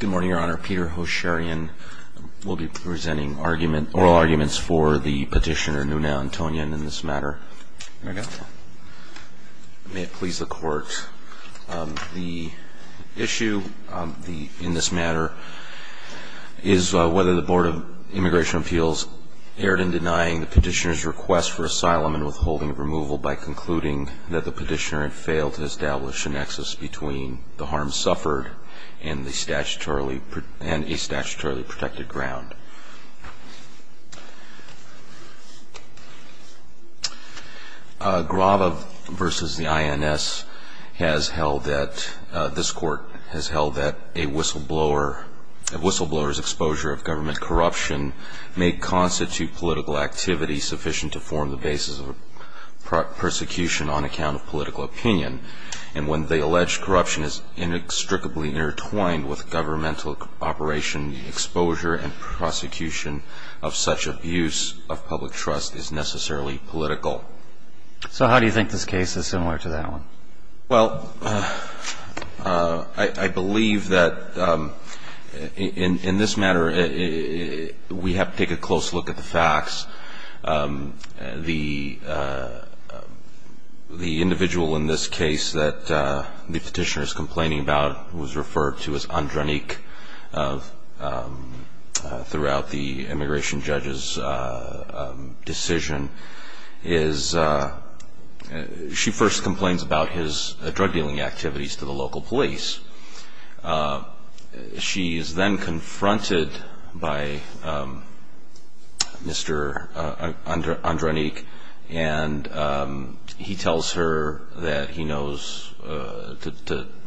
Good morning, Your Honor. Peter Hosherian will be presenting oral arguments for the petitioner Nuna Antonyan in this matter. May it please the Court. The issue in this matter is whether the Board of Immigration Appeals erred in denying the petitioner's request for asylum and withholding removal by concluding that the petitioner had failed to establish a nexus between the harm suffered and a statutorily protected ground. Grava v. the INS has held that, this Court has held that a whistleblower's exposure of government corruption may constitute political activity sufficient to form the basis of persecution on account of political opinion. And when the alleged corruption is inextricably intertwined with governmental operation, exposure and prosecution of such abuse of public trust is necessarily political. So how do you think this case is similar to that one? Well, I believe that in this matter we have to take a close look at the facts. The individual in this case that the petitioner is complaining about was referred to as Andranik throughout the immigration judge's decision. She first complains about his drug dealing activities to the local police. She is then confronted by Mr. Andranik and he tells her that he knows,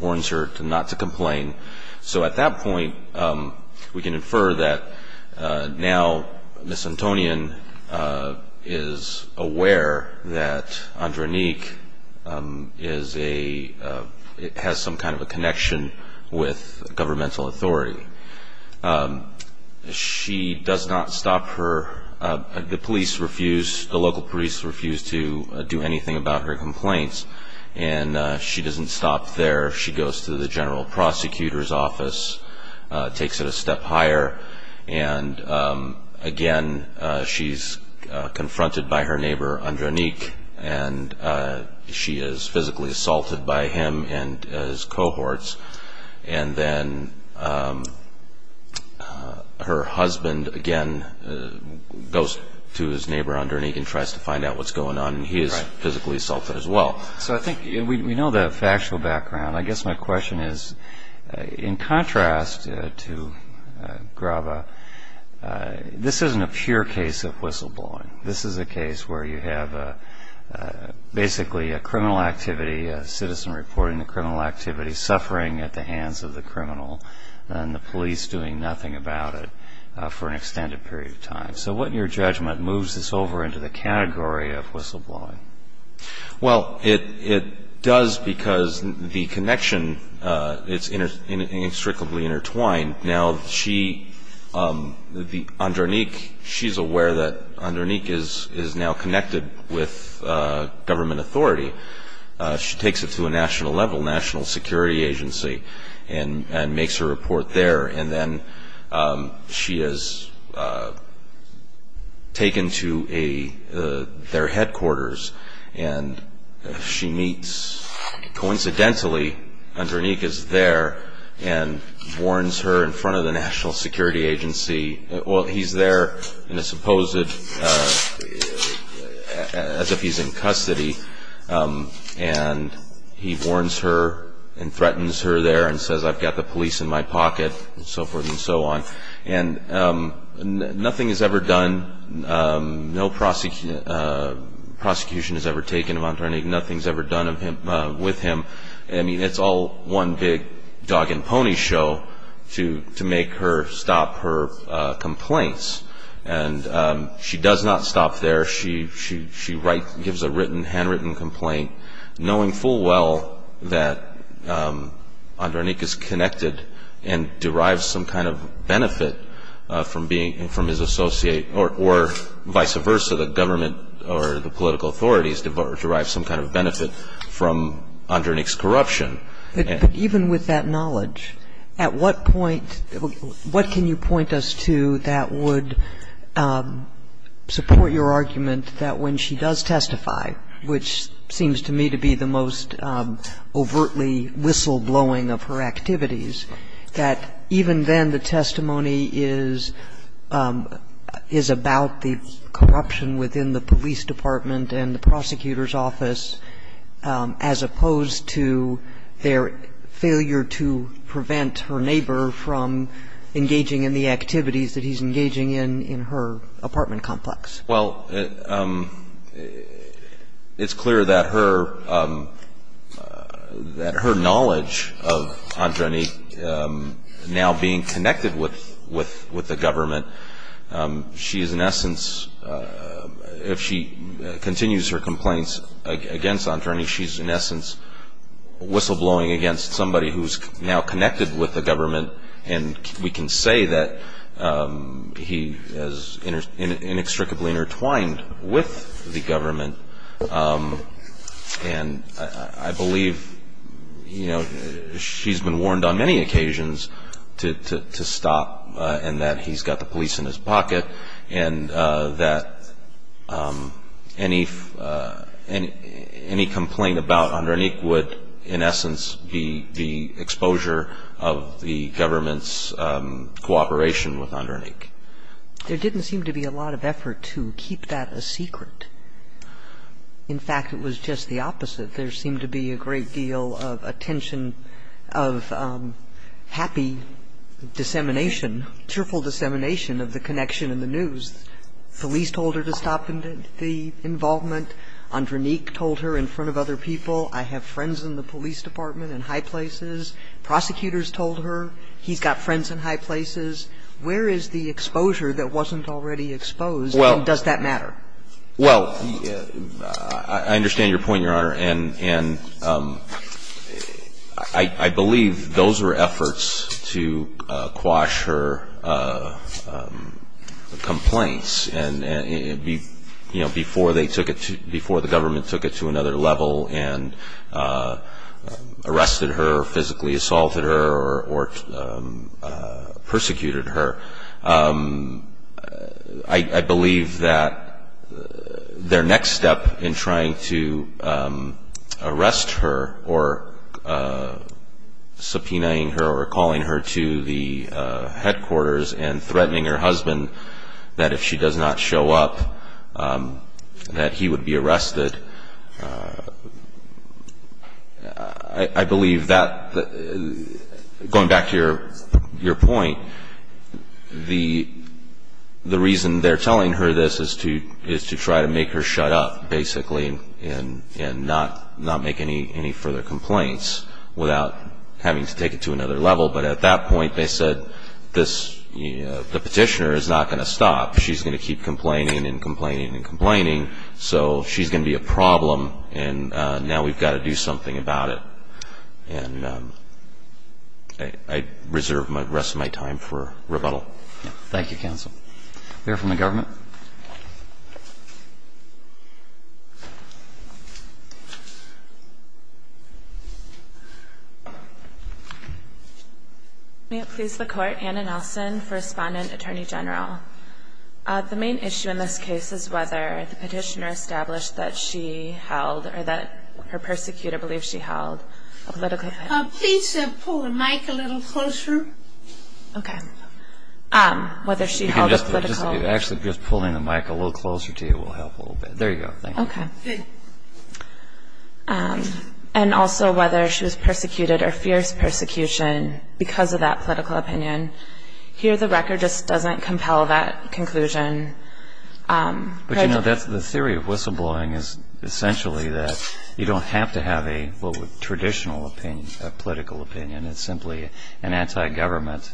warns her not to complain. So at that point, we can infer that now Ms. Antonian is aware that Andranik has some kind of a connection with governmental authority. She does not stop her, the police refuse, the local police refuse to do anything about her complaints. And she doesn't stop there. She goes to the general prosecutor's office, takes it a step higher. And again, she's confronted by her neighbor Andranik. And she is physically assaulted by him and his cohorts. And then her husband again goes to his neighbor Andranik and tries to find out what's going on. And he is physically assaulted as well. So I think we know the factual background. I guess my question is, in contrast to Grava, this isn't a pure case of whistleblowing. This is a case where you have basically a criminal activity, a citizen reporting a criminal activity, suffering at the hands of the criminal and the police doing nothing about it for an extended period of time. So what, in your judgment, moves this over into the category of whistleblowing? Well, it does because the connection is inextricably intertwined. Now, Andranik, she's aware that Andranik is now connected with government authority. She takes it to a national level, national security agency, and makes her report there. And then she is taken to their headquarters. And she meets, coincidentally, Andranik is there and warns her in front of the national security agency. Well, he's there in a supposed, as if he's in custody. And he warns her and threatens her there and says, I've got the police in my pocket, and so forth and so on. And nothing is ever done. No prosecution is ever taken of Andranik. Nothing is ever done with him. I mean, it's all one big dog and pony show to make her stop her complaints. And she does not stop there. She gives a written, handwritten complaint, knowing full well that Andranik is connected and derives some kind of benefit from being, from his associate, or vice versa, the government or the political authorities derive some kind of benefit from Andranik's corruption. But even with that knowledge, at what point, what can you point us to that would support your argument that when she does testify, which seems to me to be the most overtly whistleblowing of her activities, that even then the testimony is, is about the corruption within the police department and the prosecutor's office, as opposed to their failure to prevent her neighbor from engaging in the activities that he's engaging in in her apartment complex? Well, it's clear that her, that her knowledge of Andranik now being connected with the government, she is in essence, if she continues her complaints against Andranik, she's in essence whistleblowing against somebody who's now connected with the government. And we can say that he is inextricably intertwined with the government. And I believe, you know, she's been warned on many occasions to stop and that he's got the police in his pocket and that any complaint about Andranik would, in essence, be the exposure of the government's cooperation with Andranik. There didn't seem to be a lot of effort to keep that a secret. In fact, it was just the opposite. There seemed to be a great deal of attention of happy dissemination, cheerful dissemination of the connection in the news. Felice told her to stop the involvement. Andranik told her in front of other people, I have friends in the police department in high places. Prosecutors told her he's got friends in high places. Where is the exposure that wasn't already exposed, and does that matter? Well, I understand your point, Your Honor. And I believe those were efforts to quash her complaints before the government took it to another level and arrested her or physically assaulted her or persecuted her. I believe that their next step in trying to arrest her or subpoenaing her or calling her to the headquarters and threatening her husband that if she does not show up, that he would be arrested, I believe that, going back to your point, the reason they're telling her this is to try to make her shut up, basically, and not make any further complaints without having to take it to another level. But at that point, they said the petitioner is not going to stop. She's going to keep complaining and complaining and complaining, so she's going to be a problem, and now we've got to do something about it. And I reserve the rest of my time for rebuttal. Thank you, counsel. Anyone from the government? May it please the Court. Anna Nelson, First Respondent, Attorney General. The main issue in this case is whether the petitioner established that she held or that her persecutor believed she held a political opinion. Please pull the mic a little closer. Okay. Whether she held a political opinion. Actually, just pulling the mic a little closer to you will help a little bit. There you go. Thank you. Okay. And also whether she was persecuted or fears persecution because of that political opinion. Here, the record just doesn't compel that conclusion. But, you know, the theory of whistleblowing is essentially that you don't have to have a traditional opinion, a political opinion. It's simply an anti-government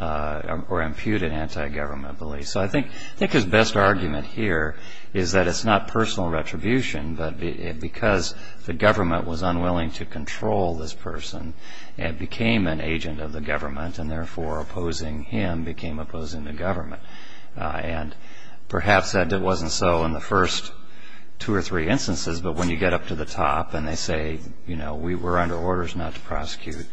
or imputed anti-government belief. So I think his best argument here is that it's not personal retribution, but because the government was unwilling to control this person, it became an agent of the government, and therefore opposing him became opposing the government. And perhaps it wasn't so in the first two or three instances, but when you get up to the top and they say, you know, we were under orders not to prosecute,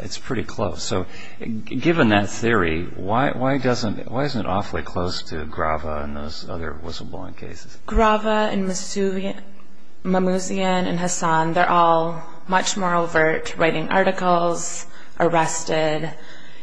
it's pretty close. So given that theory, why isn't it awfully close to Grava and those other whistleblowing cases? Grava and Mamouzian and Hassan, they're all much more overt, writing articles, arrested.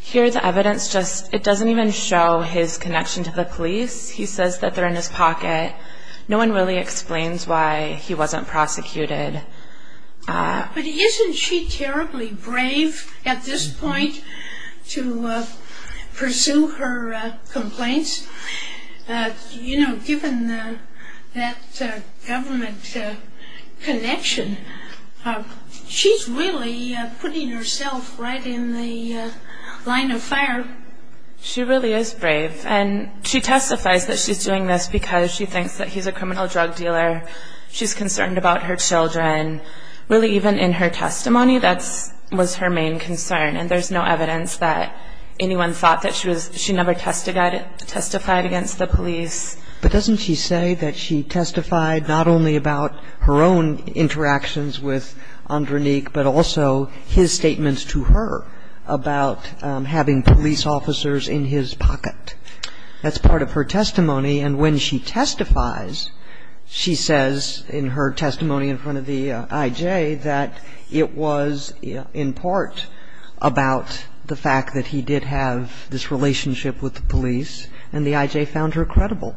Here, the evidence just, it doesn't even show his connection to the police. He says that they're in his pocket. No one really explains why he wasn't prosecuted. But isn't she terribly brave at this point to pursue her complaints? You know, given that government connection, she's really putting herself right in the line of fire. She really is brave, and she testifies that she's doing this because she thinks that he's a criminal drug dealer. She's concerned about her children. Really, even in her testimony, that was her main concern, and there's no evidence that anyone thought that she never testified against the police. But doesn't she say that she testified not only about her own interactions with Andranik, but also his statements to her about having police officers in his pocket? That's part of her testimony. And when she testifies, she says in her testimony in front of the I.J. that it was in part about the fact that he did have this relationship with the police, and the I.J. found her credible.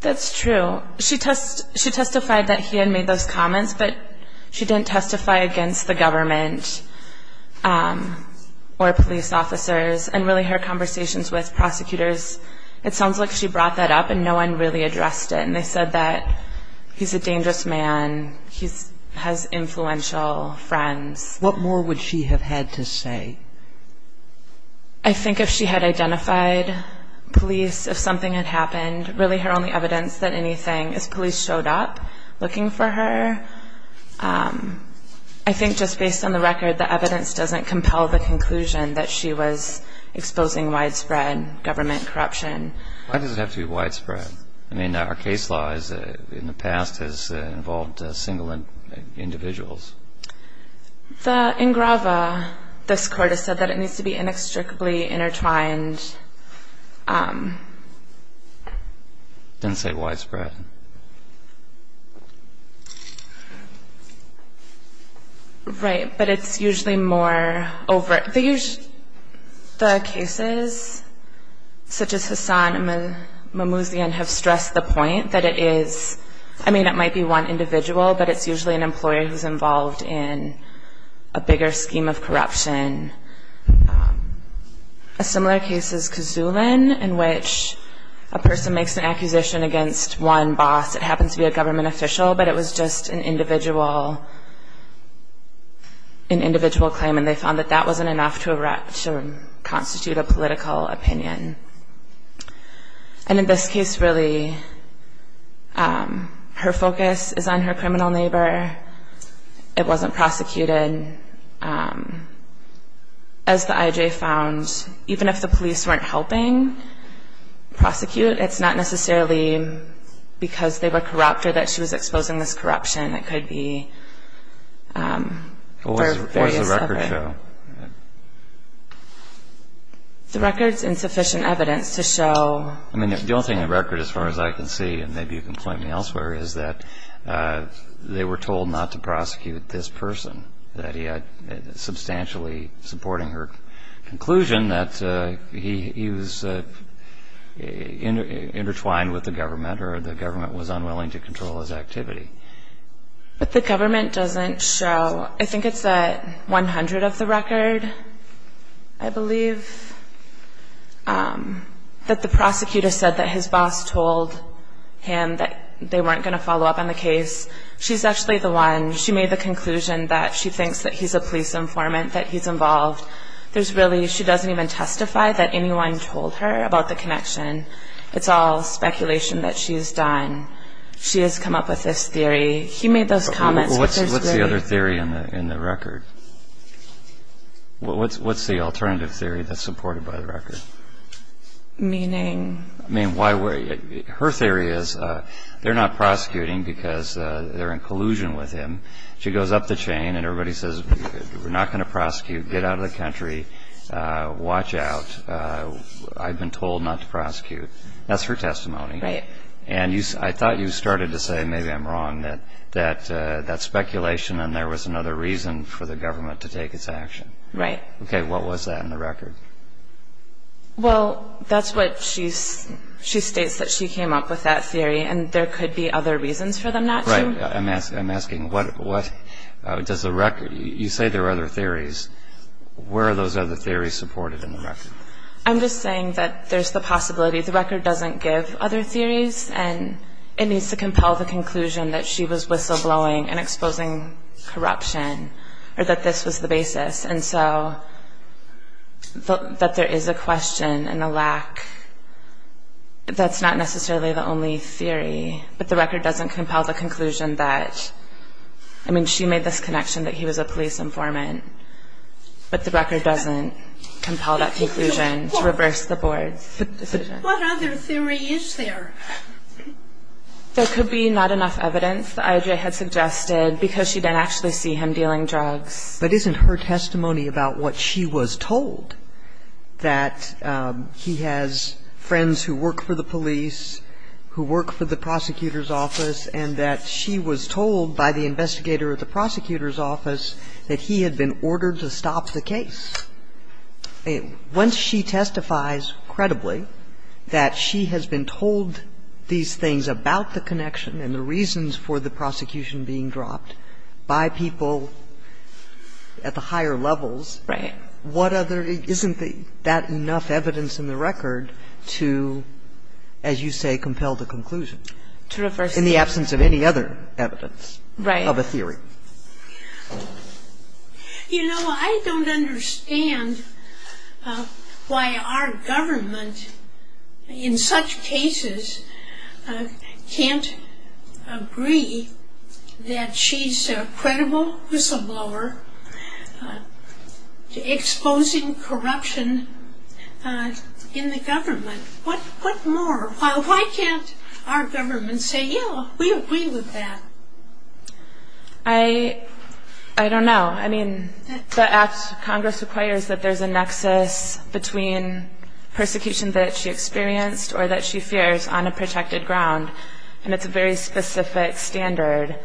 That's true. She testified that he had made those comments, but she didn't testify against the government or police officers. And really, her conversations with prosecutors, it sounds like she brought that up and no one really addressed it. And they said that he's a dangerous man, he has influential friends. What more would she have had to say? I think if she had identified police, if something had happened, really her only evidence that anything is police showed up looking for her. I think just based on the record, the evidence doesn't compel the conclusion that she was exposing widespread government corruption. Why does it have to be widespread? I mean, our case law in the past has involved single individuals. In Grava, this Court has said that it needs to be inextricably intertwined. Didn't say widespread. Right. But it's usually more over it. The cases such as Hassan and Mamouzian have stressed the point that it is, I mean it might be one individual, but it's usually an employer who's involved in a bigger scheme of corruption. A similar case is Kazoulin, in which a person makes an accusation against one boss. It happens to be a government official, but it was just an individual claim and they found that that wasn't enough to constitute a political opinion. And in this case, really, her focus is on her criminal neighbor. It wasn't prosecuted. As the IJ found, even if the police weren't helping prosecute, it's not necessarily because they were corrupt or that she was exposing this corruption. It could be various other... What was the record show? The record's insufficient evidence to show... I mean, the only thing the record, as far as I can see, and maybe you can point me elsewhere, is that they were told not to prosecute this person, that he had substantially supporting her conclusion that he was intertwined with the government or the government was unwilling to control his activity. But the government doesn't show... I think it's at 100 of the record, I believe, that the prosecutor said that his boss told him that they weren't going to follow up on the case. She's actually the one. She made the conclusion that she thinks that he's a police informant, that he's involved. There's really... She doesn't even testify that anyone told her about the connection. It's all speculation that she's done. She has come up with this theory. What's the other theory in the record? What's the alternative theory that's supported by the record? Meaning? Her theory is they're not prosecuting because they're in collusion with him. She goes up the chain and everybody says, we're not going to prosecute, get out of the country, watch out. I've been told not to prosecute. That's her testimony. Right. I thought you started to say, maybe I'm wrong, that that's speculation and there was another reason for the government to take its action. Right. Okay, what was that in the record? Well, that's what she states, that she came up with that theory, and there could be other reasons for them not to. Right. I'm asking, what does the record... You say there are other theories. Where are those other theories supported in the record? I'm just saying that there's the possibility. The record doesn't give other theories, and it needs to compel the conclusion that she was whistleblowing and exposing corruption, or that this was the basis, and so that there is a question and a lack that's not necessarily the only theory, but the record doesn't compel the conclusion that... I mean, she made this connection that he was a police informant, but the record doesn't compel that conclusion to reverse the board's decision. What other theory is there? There could be not enough evidence that IJ had suggested because she didn't actually see him dealing drugs. But isn't her testimony about what she was told, that he has friends who work for the police, who work for the prosecutor's office, and that she was told by the investigator at the prosecutor's office that he had been ordered to stop the case. Once she testifies credibly that she has been told these things about the connection and the reasons for the prosecution being dropped by people at the higher levels... Right. ...what other... Isn't that enough evidence in the record to, as you say, compel the conclusion... To reverse... ...in the absence of any other evidence... Right. ...of a theory? You know, I don't understand why our government in such cases can't agree that she's a credible whistleblower exposing corruption in the government. What more? Why can't our government say, yeah, we agree with that? I don't know. I mean, the act, Congress requires that there's a nexus between persecution that she experienced or that she fears on a protected ground. And it's a very specific standard.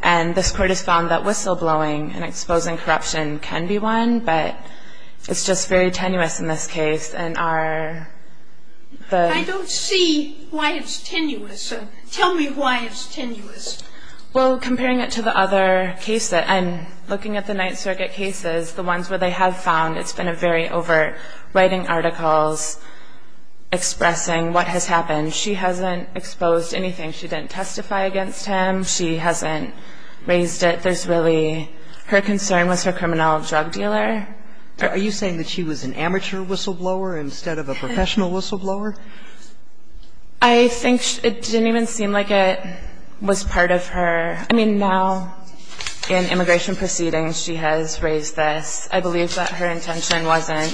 And this Court has found that whistleblowing and exposing corruption can be one, but it's just very tenuous in this case. I don't see why it's tenuous. Tell me why it's tenuous. Well, comparing it to the other cases, and looking at the Ninth Circuit cases, the ones where they have found it's been a very overt writing articles expressing what has happened. She hasn't exposed anything. She didn't testify against him. She hasn't raised it. There's really her concern with her criminal drug dealer. Are you saying that she was an amateur whistleblower instead of a professional whistleblower? I think it didn't even seem like it was part of her. I mean, now, in immigration proceedings, she has raised this. I believe that her intention wasn't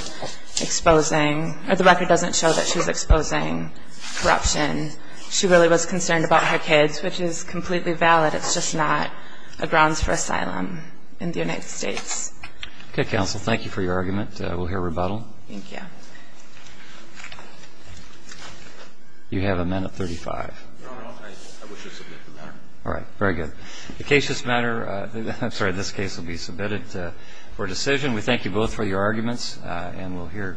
exposing, or the record doesn't show that she was exposing corruption. She really was concerned about her kids, which is completely valid. It's just not a grounds for asylum in the United States. Okay, counsel. Thank you for your argument. We'll hear rebuttal. Thank you. You have a minute and 35. Your Honor, I wish to submit the matter. All right. Very good. The case this matter, I'm sorry, this case will be submitted for decision. We thank you both for your arguments, and we'll hear rebuttal.